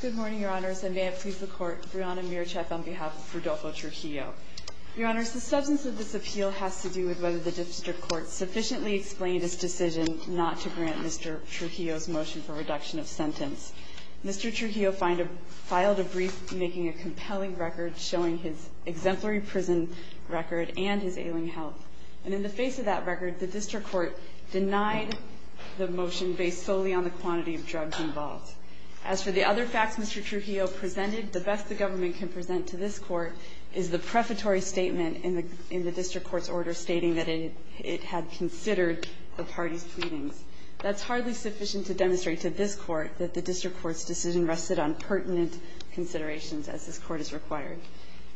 Good morning, your honors, and may it please the court, Brianna Mircheff on behalf of Rodolfo Trujillo. Your honors, the substance of this appeal has to do with whether the district court sufficiently explained its decision not to grant Mr. Trujillo's motion for reduction of sentence. Mr. Trujillo filed a brief making a compelling record showing his exemplary prison record and his ailing health. And in the face of that record, the district court denied the motion based solely on the quantity of drugs involved. As for the other facts Mr. Trujillo presented, the best the government can present to this court is the prefatory statement in the district court's order stating that it had considered the party's pleadings. That's hardly sufficient to demonstrate to this court that the district court's decision rested on pertinent considerations, as this court has required.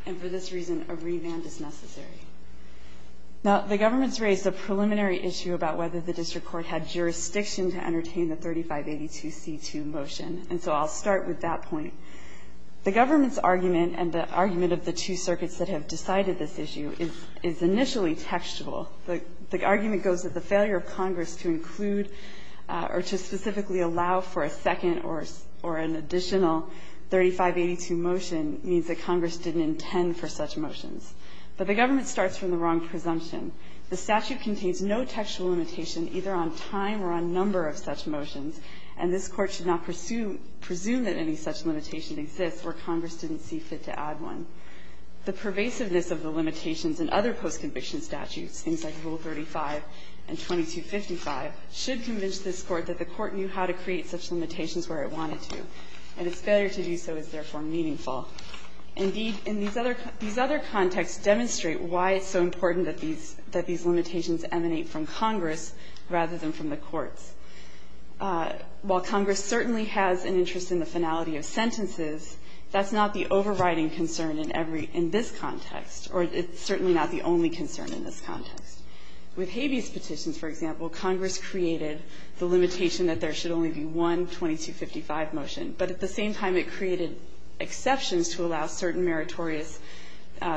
And for this reason, a revamp is necessary. Now, the government's raised a preliminary issue about whether the district court had jurisdiction to entertain the 3582C2 motion, and so I'll start with that point. The government's argument and the argument of the two circuits that have decided this issue is initially textual. The argument goes that the failure of Congress to include or to specifically allow for a second or an additional 3582 motion means that Congress didn't intend for such motions. But the government starts from the wrong presumption. The statute contains no textual limitation either on time or on number of such motions, and this Court should not presume that any such limitation exists where Congress didn't see fit to add one. The pervasiveness of the limitations in other post-conviction statutes, things like Rule 35 and 2255, should convince this Court that the Court knew how to create such limitations where it wanted to, and its failure to do so is therefore meaningful. Indeed, in these other contexts demonstrate why it's so important that these limitations emanate from Congress rather than from the courts. While Congress certainly has an interest in the finality of sentences, that's not the overriding concern in every – in this context, or it's certainly not the only concern in this context. With habeas petitions, for example, Congress created the limitation that there should only be one 2255 motion. But at the same time, it created exceptions to allow certain meritorious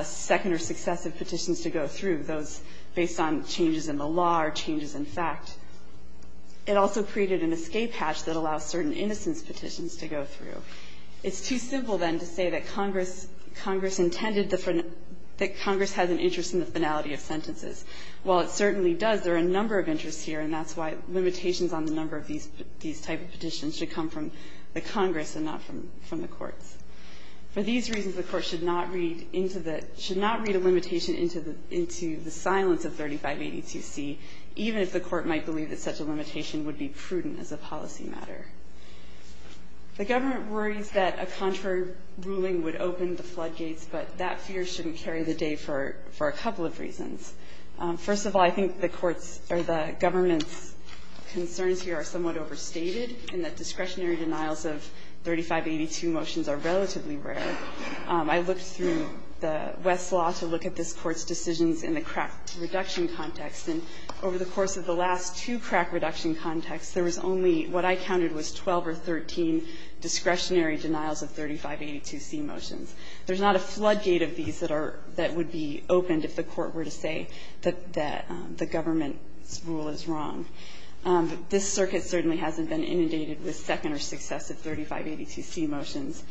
second or successive petitions to go through, those based on changes in the law or changes in fact. It also created an escape hatch that allows certain innocence petitions to go through. It's too simple, then, to say that Congress intended the – that Congress has an interest in the finality of sentences. While it certainly does, there are a number of interests here, and that's why limitations on the number of these type of petitions should come from the Congress and not from the courts. For these reasons, the Court should not read into the – should not read a limitation into the silence of 3582C, even if the Court might believe that such a limitation would be prudent as a policy matter. The government worries that a contrary ruling would open the floodgates, but that fear shouldn't carry the day for a couple of reasons. First of all, I think the Court's or the government's concerns here are somewhat overstated, in that discretionary denials of 3582 motions are relatively rare. I looked through the West's law to look at this Court's decisions in the crack reduction context, and over the course of the last two crack reduction contexts, there was only what I counted was 12 or 13 discretionary denials of 3582C motions. There's not a floodgate of these that are – that would be opened if the Court were to say that the government's rule is wrong. This circuit certainly hasn't been inundated with second or successive 3582C motions.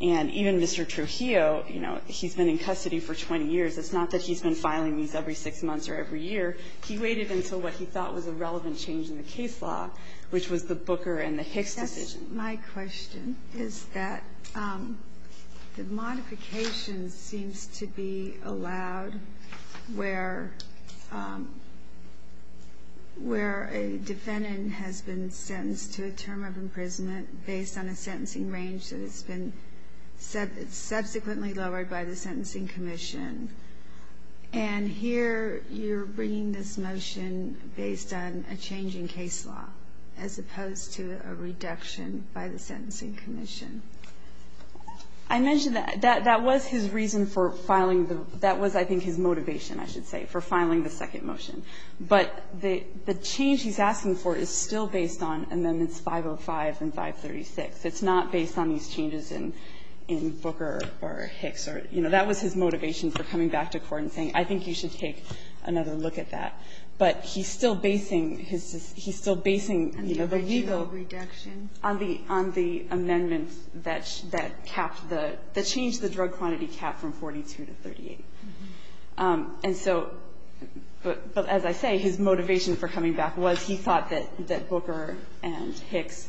And even Mr. Trujillo, you know, he's been in custody for 20 years. It's not that he's been filing these every six months or every year. He waited until what he thought was a relevant change in the case law, which was the Booker and the Hicks decisions. My question is that the modification seems to be allowed where a defendant has been sentenced to a term of imprisonment based on a sentencing range that has been subsequently lowered by the Sentencing Commission. And here you're bringing this motion based on a change in case law as opposed to a reduction by the Sentencing Commission. I mentioned that. That was his reason for filing the – that was, I think, his motivation, I should say, for filing the second motion. But the change he's asking for is still based on Amendments 505 and 536. It's not based on these changes in Booker or Hicks. You know, that was his motivation for coming back to court and saying, I think you should take another look at that. But he's still basing his – he's still basing, you know, the legal – And the actual reduction? On the – on the amendments that capped the – that changed the drug quantity cap from 42 to 38. And so – but as I say, his motivation for coming back was he thought that Booker and Hicks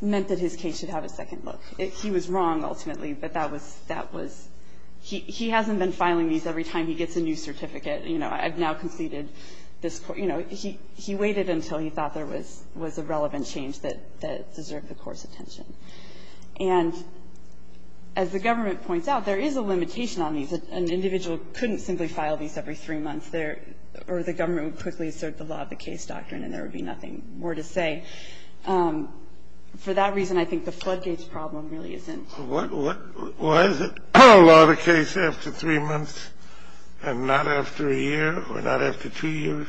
meant that his case should have a second look. He was wrong ultimately, but that was – that was – he hasn't been filing these every time he gets a new certificate. You know, I've now completed this – you know, he – he waited until he thought there was – was a relevant change that – that deserved the court's attention. And as the government points out, there is a limitation on these. An individual couldn't simply file these every three months. There – or the government would quickly assert the law of the case doctrine, and there would be nothing more to say. For that reason, I think the floodgates problem really isn't – Why is it law of the case after three months and not after a year or not after two years?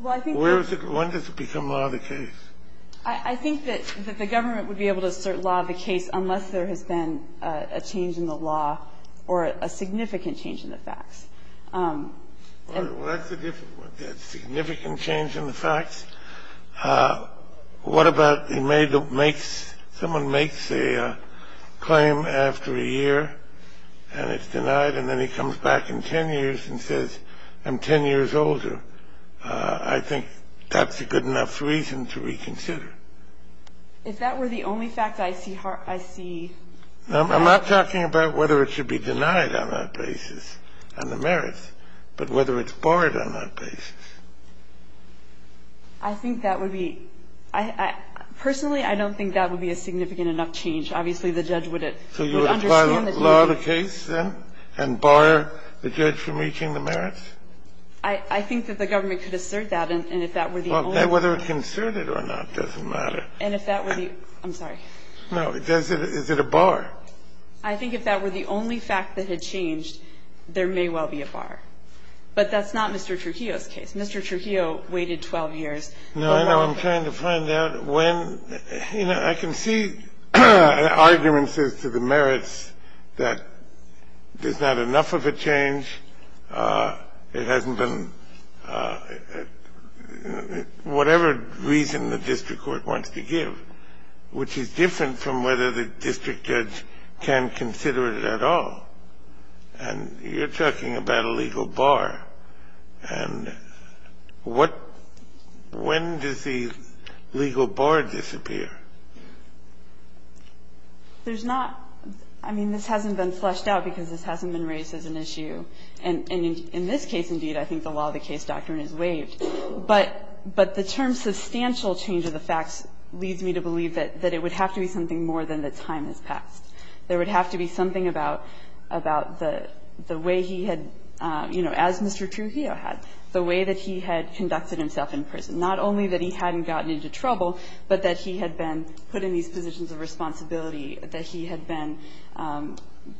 Well, I think that – Where is it – when does it become law of the case? I think that the government would be able to assert law of the case unless there has been a change in the law or a significant change in the facts. Well, that's a different – significant change in the facts. What about the – makes – someone makes a claim after a year and it's denied, and then he comes back in 10 years and says, I'm 10 years older. I think that's a good enough reason to reconsider. If that were the only fact I see – I see – I'm not talking about whether it should be denied on that basis on the merits, but whether it's borrowed on that basis. I think that would be – I – personally, I don't think that would be a significant enough change. Obviously, the judge would – So you would apply law of the case, then, and bar the judge from reaching the merits? I think that the government could assert that, and if that were the only – Well, whether it's asserted or not doesn't matter. And if that were the – I'm sorry. No, is it a bar? I think if that were the only fact that had changed, there may well be a bar. But that's not Mr. Trujillo's case. Mr. Trujillo waited 12 years. No, I know. I'm trying to find out when – you know, I can see arguments as to the merits that there's not enough of a change. It hasn't been – whatever reason the district court wants to give, which is different from whether the district judge can consider it at all. And you're talking about a legal bar. And what – when does the legal bar disappear? There's not – I mean, this hasn't been fleshed out because this hasn't been raised as an issue. And in this case, indeed, I think the law of the case doctrine is waived. But the term substantial change of the facts leads me to believe that it would have to be something more than that time has passed. There would have to be something about the way he had – you know, as Mr. Trujillo had, the way that he had conducted himself in prison, not only that he hadn't gotten into trouble, but that he had been put in these positions of responsibility, that he had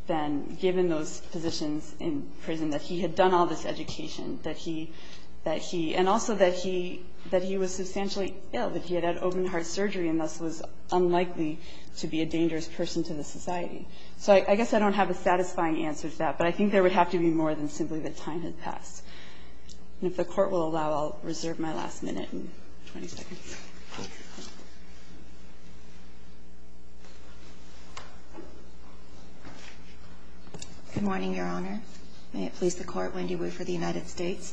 been given those positions in prison, that he had done all this education, that he – and also that he was substantially ill, that he had had open-heart surgery, and thus was unlikely to be a dangerous person to the society. So I guess I don't have a satisfying answer to that, but I think there would have to be more than simply that time had passed. And if the Court will allow, I'll reserve my last minute and 20 seconds. Good morning, Your Honor. May it please the Court, Wendy Woo for the United States.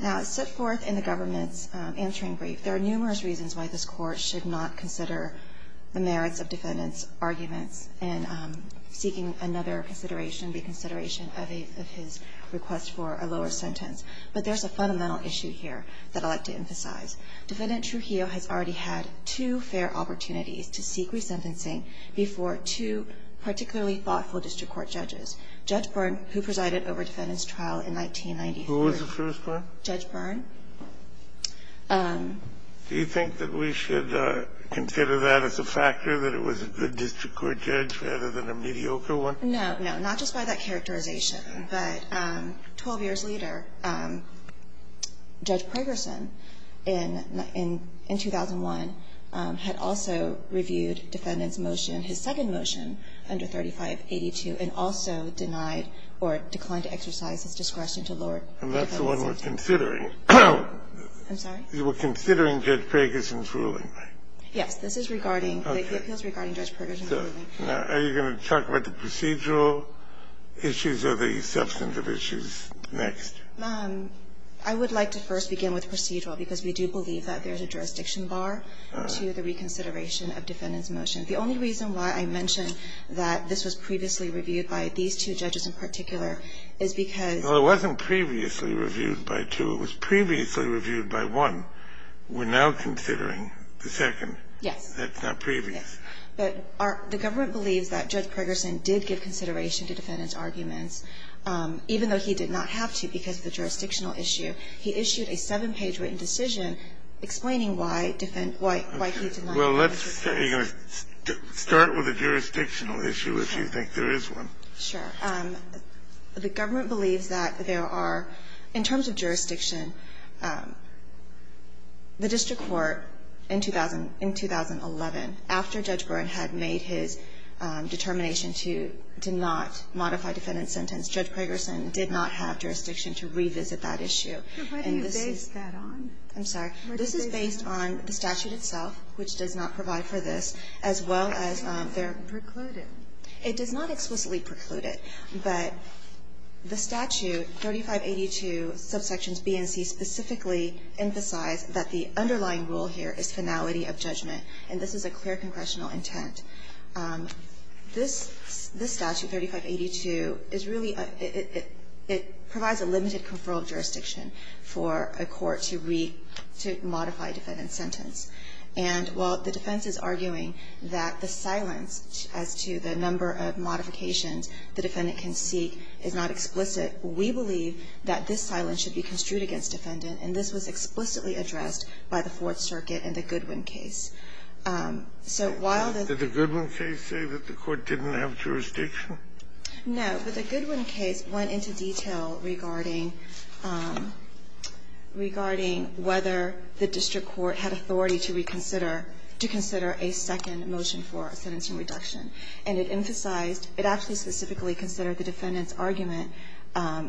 Now, set forth in the government's answering brief, there are numerous reasons why this Court should not consider the merits of defendant's arguments and seeking another consideration, reconsideration of his request for a lower sentence. But there's a fundamental issue here that I'd like to emphasize. Defendant Trujillo has already had two fair opportunities to seek resentencing before two particularly thoughtful district court judges, Judge Byrne, who presided over defendant's trial in 1993. Who was the first one? Judge Byrne. Do you think that we should consider that as a factor, that it was a good district court judge rather than a mediocre one? No. No. Not just by that characterization, but 12 years later, Judge Pragerson, in 2001, had also reviewed defendant's motion, his second motion, under 3582, and also denied or declined to exercise his discretion to lower defendant's sentence. And that's the one we're considering. I'm sorry? We're considering Judge Pragerson's ruling, right? Yes. This is regarding the appeals regarding Judge Pragerson's ruling. Okay. So are you going to talk about the procedural issues or the substantive issues next? I would like to first begin with procedural, because we do believe that there's a jurisdiction bar to the reconsideration of defendant's motion. The only reason why I mention that this was previously reviewed by these two judges in particular is because of the fact that Judge Pragerson did give consideration to defendant's arguments, even though he did not have to because of the jurisdictional issue, he issued a seven-page written decision explaining why he did not have to. Okay. Well, let's say you're going to start with a jurisdictional issue if you think there is one. Sure. The government believes that there are, in terms of jurisdiction, the district court in 2011, after Judge Byrne had made his determination to not modify defendant's sentence, Judge Pragerson did not have jurisdiction to revisit that issue. Why do you base that on? I'm sorry? This is based on the statute itself, which does not provide for this, as well as their precluded. It does not explicitly preclude it, but the statute, 3582 subsections B and C, specifically emphasize that the underlying rule here is finality of judgment, and this is a clear congressional intent. This statute, 3582, is really a – it provides a limited conferral jurisdiction for a court to read – to modify defendant's sentence. And while the defense is arguing that the silence as to the number of modifications the defendant can seek is not explicit, we believe that this silence should be construed against defendant, and this was explicitly addressed by the Fourth Circuit in the Goodwin case. So while the – Did the Goodwin case say that the court didn't have jurisdiction? No, but the Goodwin case went into detail regarding – regarding whether the district court had authority to reconsider – to consider a second motion for a sentencing reduction, and it emphasized – it actually specifically considered the defendant's argument,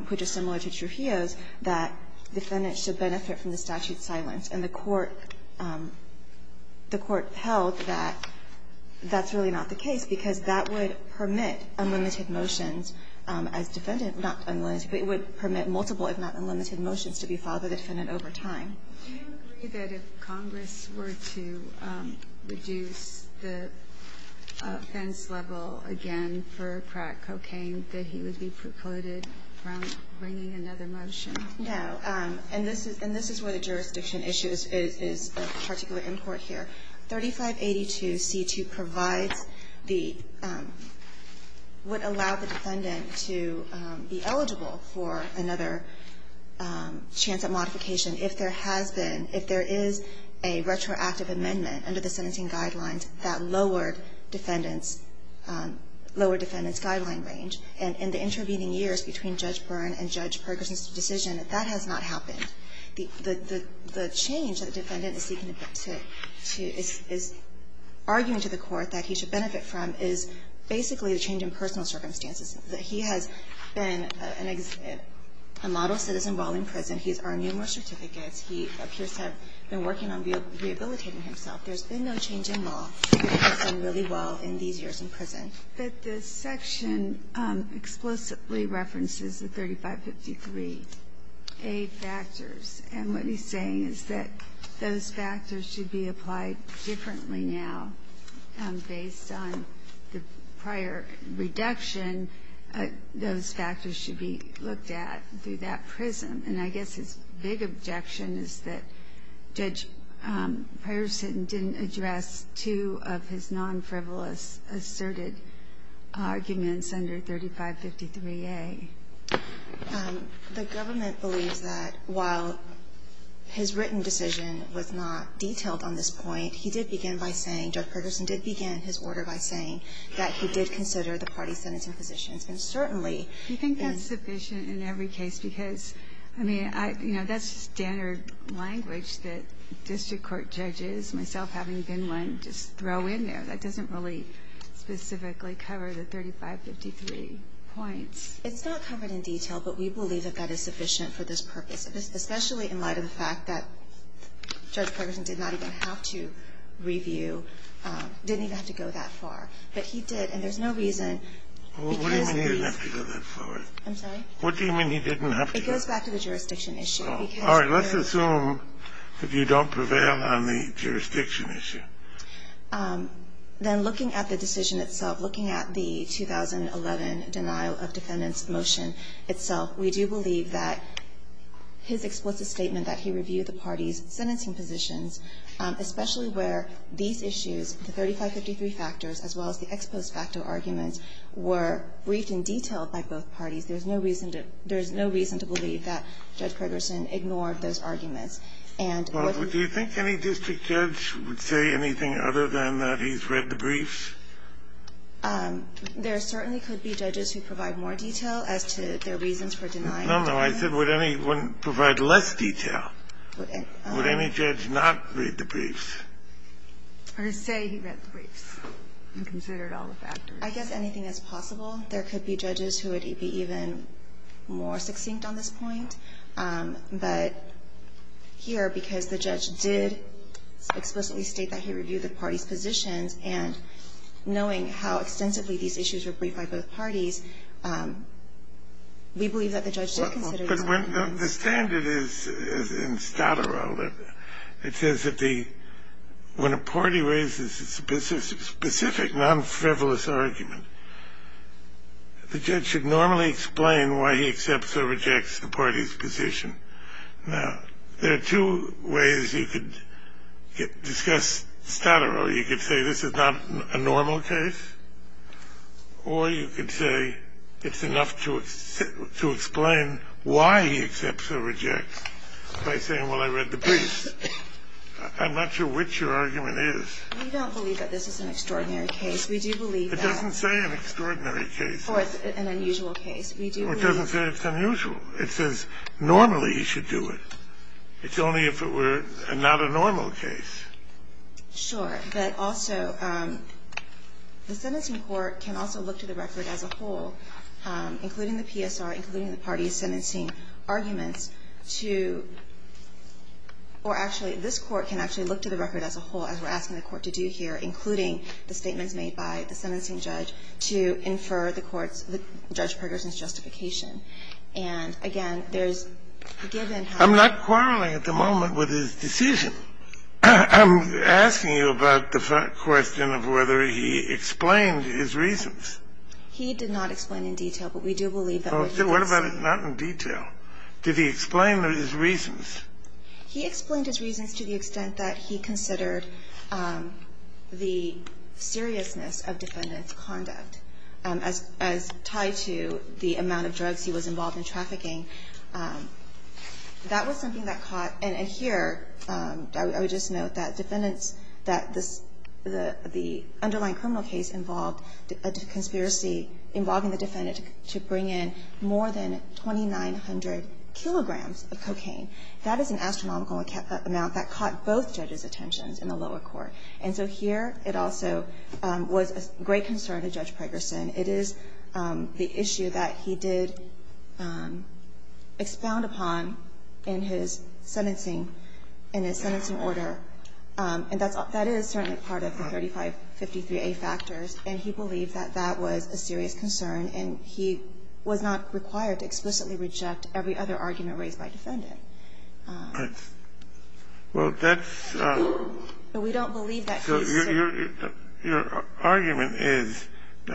which is similar to Trujillo's, that defendants should benefit from the statute's silence, and the court – the court held that that's really not the case because that would permit unlimited motions as defendant – not unlimited, but it would permit multiple, if not unlimited, motions to be filed by the defendant over time. Do you agree that if Congress were to reduce the offense level again for crack cocaine, that he would be precluded from bringing another motion? No. And this is – and this is where the jurisdiction issue is – is a particular import here. 3582c2 provides the – would allow the defendant to be eligible for another chance at modification if there has been – if there is a retroactive amendment under the sentencing guidelines that lowered defendant's – lowered defendant's guideline range. And in the intervening years between Judge Byrne and Judge Perkins' decision, that has not happened. The change that the defendant is seeking to – is arguing to the court that he should benefit from is basically the change in personal circumstances, that he has been a model citizen while in prison. He has earned numerous certificates. He appears to have been working on rehabilitating himself. There's been no change in law. He's done really well in these years in prison. But the section explicitly references the 3553a factors. And what he's saying is that those factors should be applied differently now. Based on the prior reduction, those factors should be looked at through that prism And I guess his big objection is that Judge Perkins didn't address two of his non-frivolous asserted arguments under 3553a. The government believes that while his written decision was not detailed on this point, he did begin by saying – Judge Perkins did begin his order by saying that he did consider the party sentencing positions. And certainly – Do you think that's sufficient in every case? Because, I mean, that's standard language that district court judges, myself having been one, just throw in there. That doesn't really specifically cover the 3553 points. It's not covered in detail, but we believe that that is sufficient for this purpose. Especially in light of the fact that Judge Perkins did not even have to review – didn't even have to go that far. But he did. And there's no reason – What do you mean he didn't have to go that far? I'm sorry? What do you mean he didn't have to go that far? It goes back to the jurisdiction issue. All right. Let's assume that you don't prevail on the jurisdiction issue. Then looking at the decision itself, looking at the 2011 denial of defendants motion itself, we do believe that his explicit statement that he reviewed the party's sentencing positions, especially where these issues, the 3553 factors, as well as the post facto arguments, were briefed in detail by both parties. There's no reason to – there's no reason to believe that Judge Perkerson ignored those arguments. And what would you think any district judge would say anything other than that he's read the briefs? There certainly could be judges who provide more detail as to their reasons for denying the briefs. No, no. I said would any – would provide less detail. Would any judge not read the briefs? Or say he read the briefs and considered all the factors? I guess anything that's possible. There could be judges who would be even more succinct on this point. But here, because the judge did explicitly state that he reviewed the party's positions, and knowing how extensively these issues were briefed by both parties, we believe that the judge did consider the briefs. But when – the standard is, in Stadaro, it says that the – when a party raises a specific non-frivolous argument, the judge should normally explain why he accepts or rejects the party's position. Now, there are two ways you could discuss Stadaro. You could say this is not a normal case, or you could say it's enough to explain why he accepts or rejects by saying, well, I read the briefs. I'm not sure which your argument is. We don't believe that this is an extraordinary case. We do believe that – It doesn't say an extraordinary case. Or it's an unusual case. We do believe – Or it doesn't say it's unusual. It says normally you should do it. It's only if it were not a normal case. Sure. But also, the sentencing court can also look to the record as a whole, including the PSR, including the party's sentencing arguments, to – or actually, this court can actually look to the record as a whole, as we're asking the Court to do here, including the statements made by the sentencing judge to infer the court's – the judge Pergerson's justification. And again, there's – given how – I'm not quarreling at the moment with his decision. I'm asking you about the question of whether he explained his reasons. He did not explain in detail, but we do believe that what he did say – Well, what about not in detail? Did he explain his reasons? He explained his reasons to the extent that he considered the seriousness of defendant's conduct as tied to the amount of drugs he was involved in trafficking. That was something that caught – and here, I would just note that defendants that this – the underlying criminal case involved a conspiracy involving the defendant to bring in more than 2,900 kilograms of cocaine. That is an astronomical amount that caught both judges' attentions in the lower court. And so here, it also was a great concern to Judge Pergerson. It is the issue that he did expound upon in his sentencing – in his sentencing And he did not explain the seriousness of the crime in order – and that is certainly part of the 3553a factors – and he believed that that was a serious concern, and he was not required to explicitly reject every other argument raised by defendant. Well, that's – We don't believe that case, sir. So, your argument is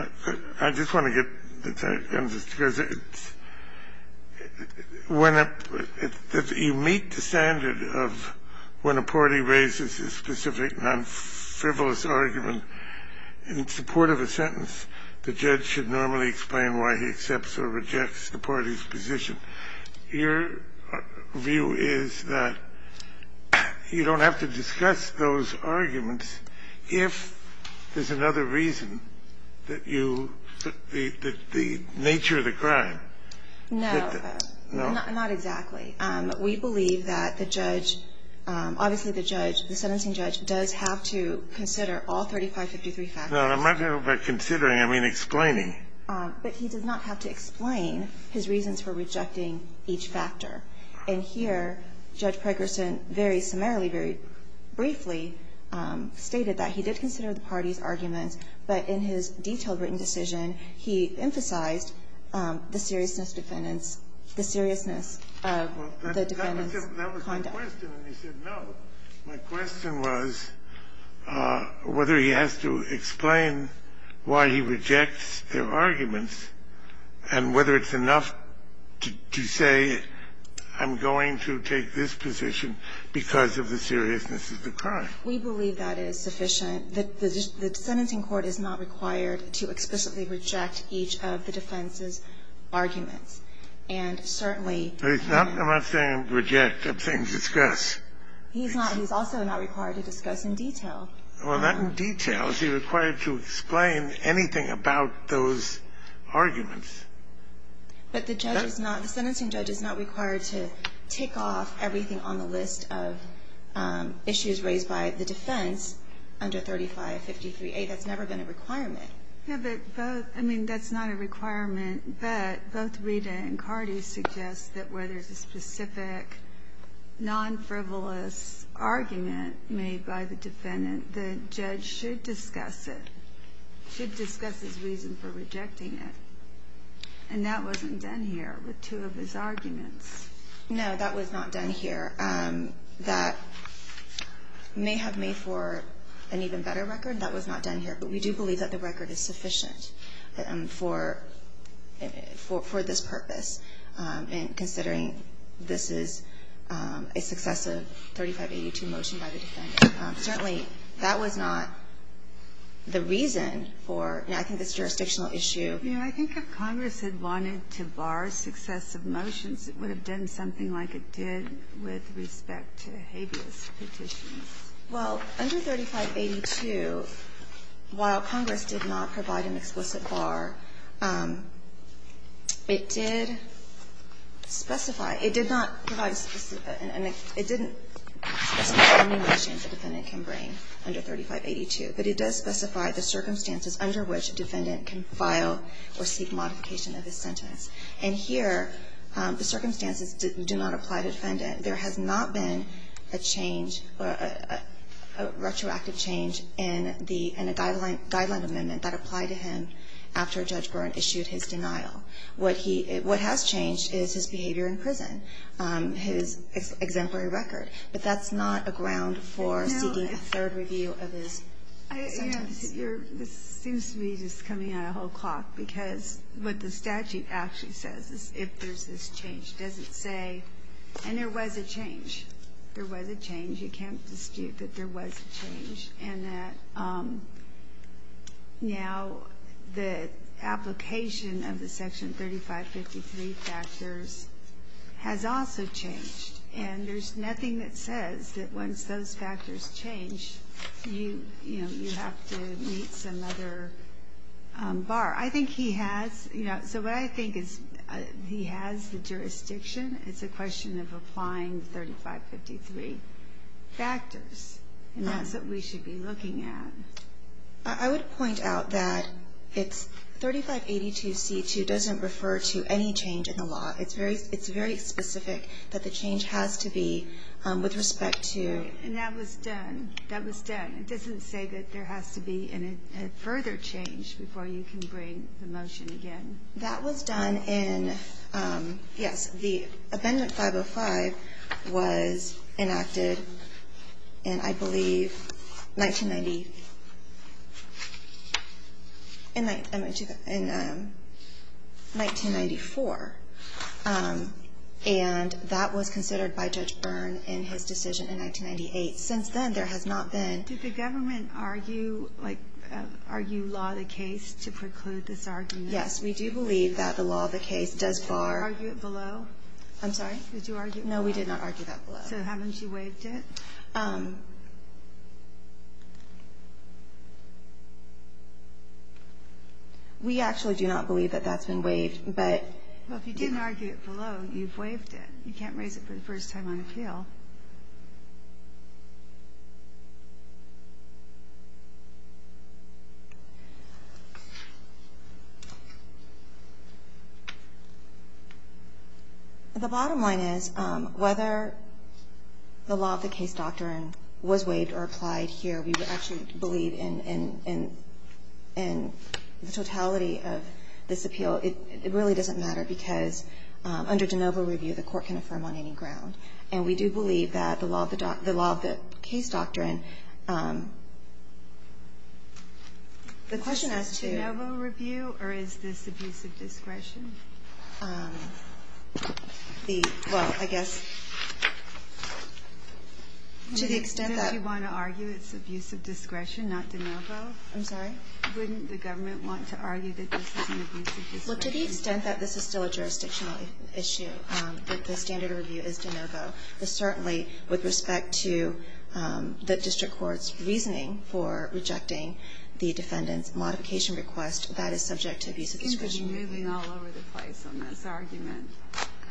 – I just want to get – because it's – when a – you meet the standard of when a party raises a specific non-frivolous argument in support of a sentence, the judge should normally explain why he accepts or rejects the party's position. Your view is that you don't have to discuss those arguments if there's another reason that you – that the nature of the crime. No. No. Not exactly. We believe that the judge – obviously, the judge, the sentencing judge does have to consider all 3553 factors. No, I'm not talking about considering. I mean explaining. But he does not have to explain his reasons for rejecting each factor. And here, Judge Pregerson very summarily, very briefly stated that he did consider the party's arguments, but in his detailed written decision, he emphasized the seriousness defendants – the seriousness of the defendants' conduct. My question was whether he has to explain why he rejects their arguments and whether it's enough to say I'm going to take this position because of the seriousness of the crime. We believe that is sufficient. The sentencing court is not required to explicitly reject each of the defense's arguments. And certainly – He's not saying reject. I'm saying discuss. He's not – he's also not required to discuss in detail. Well, not in detail. Is he required to explain anything about those arguments? But the judge is not – the sentencing judge is not required to tick off everything on the list of issues raised by the defense under 3553a. That's never been a requirement. Yeah, but both – I mean, that's not a requirement. But both Rita and Carty suggest that where there's a specific non-frivolous argument made by the defendant, the judge should discuss it, should discuss his reason for rejecting it. And that wasn't done here with two of his arguments. No, that was not done here. That may have made for an even better record. That was not done here. We do believe that the record is sufficient for this purpose in considering this is a successive 3582 motion by the defendant. Certainly, that was not the reason for, I think, this jurisdictional issue. I think if Congress had wanted to bar successive motions, it would have done something like it did with respect to habeas petitions. Well, under 3582, while Congress did not provide an explicit bar, it did specify – it did not provide – it didn't specify any motions the defendant can bring under 3582, but it does specify the circumstances under which a defendant can file or seek modification of his sentence. And here, the circumstances do not apply to the defendant. There has not been a change or a retroactive change in the – in a guideline amendment that applied to him after Judge Byrne issued his denial. What he – what has changed is his behavior in prison, his exemplary record. But that's not a ground for seeking a third review of his sentence. You're – this seems to be just coming out of whole clock, because what the statute actually says is if there's this change. It doesn't say – and there was a change. There was a change. You can't dispute that there was a change and that now the application of the Section 3553 factors has also changed. And there's nothing that says that once those factors change, you, you know, you have to meet some other bar. I think he has – you know, so what I think is he has the jurisdiction. It's a question of applying 3553 factors, and that's what we should be looking at. I would point out that it's – 3582c2 doesn't refer to any change in the law. It's very specific that the change has to be with respect to – And that was done. That was done. It doesn't say that there has to be a further change before you can bring the motion again. That was done in – yes. The Amendment 505 was enacted in, I believe, 1990 – in 1994. And that was considered by Judge Byrne in his decision in 1998. Since then, there has not been – Did the government argue, like, argue law of the case to preclude this argument? Yes. We do believe that the law of the case does bar – Did you argue it below? I'm sorry? Did you argue it below? No, we did not argue that below. So haven't you waived it? We actually do not believe that that's been waived, but – Well, if you didn't argue it below, you've waived it. You can't raise it for the first time on appeal. The bottom line is, whether the law of the case doctrine was waived or applied here, we actually believe in the totality of this appeal. So it really doesn't matter, because under de novo review, the Court can affirm on any ground. And we do believe that the law of the – the law of the case doctrine – the question as to – Is this de novo review, or is this abusive discretion? The – well, I guess, to the extent that – Do you want to argue it's abusive discretion, not de novo? I'm sorry? Wouldn't the government want to argue that this is an abusive discretion? Well, to the extent that this is still a jurisdictional issue, that the standard review is de novo, but certainly with respect to the district court's reasoning for rejecting the defendant's modification request, that is subject to abusive discretion. You seem to be moving all over the place on this argument.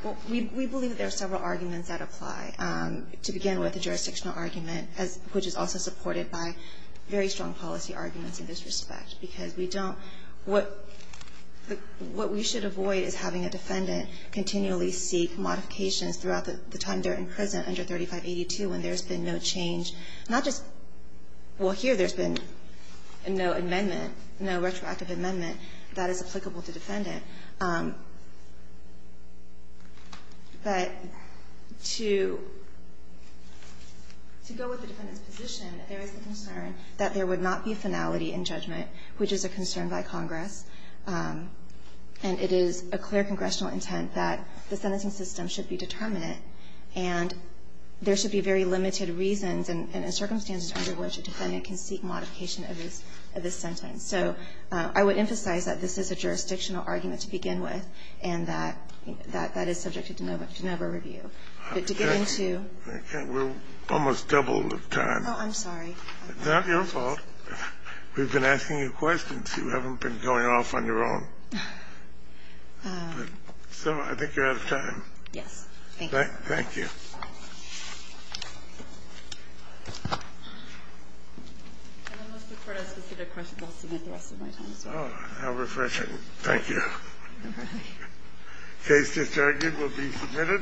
Well, we believe that there are several arguments that apply. To begin with, the jurisdictional argument, which is also supported by very strong policy arguments in this respect, because we don't – what we should avoid is having a defendant continually seek modifications throughout the time they're in prison under 3582 when there's been no change, not just – well, here there's been no amendment, no retroactive amendment that is applicable to the defendant. But to go with the defendant's position, there is the concern that there would not be finality in judgment, which is a concern by Congress. And it is a clear congressional intent that the sentencing system should be determinate, and there should be very limited reasons and circumstances under which a defendant can seek modification of his – of his sentence. So I would emphasize that this is a jurisdictional argument to begin with, and that that is subject to de novo review. But to get into – I can't. We're almost double the time. Oh, I'm sorry. It's not your fault. We've been asking you questions. You haven't been going off on your own. So I think you're out of time. Yes. Thank you. Thank you. And unless the Court has specific questions, I'll submit the rest of my time as well. Oh, how refreshing. Thank you. Case just argued will be submitted.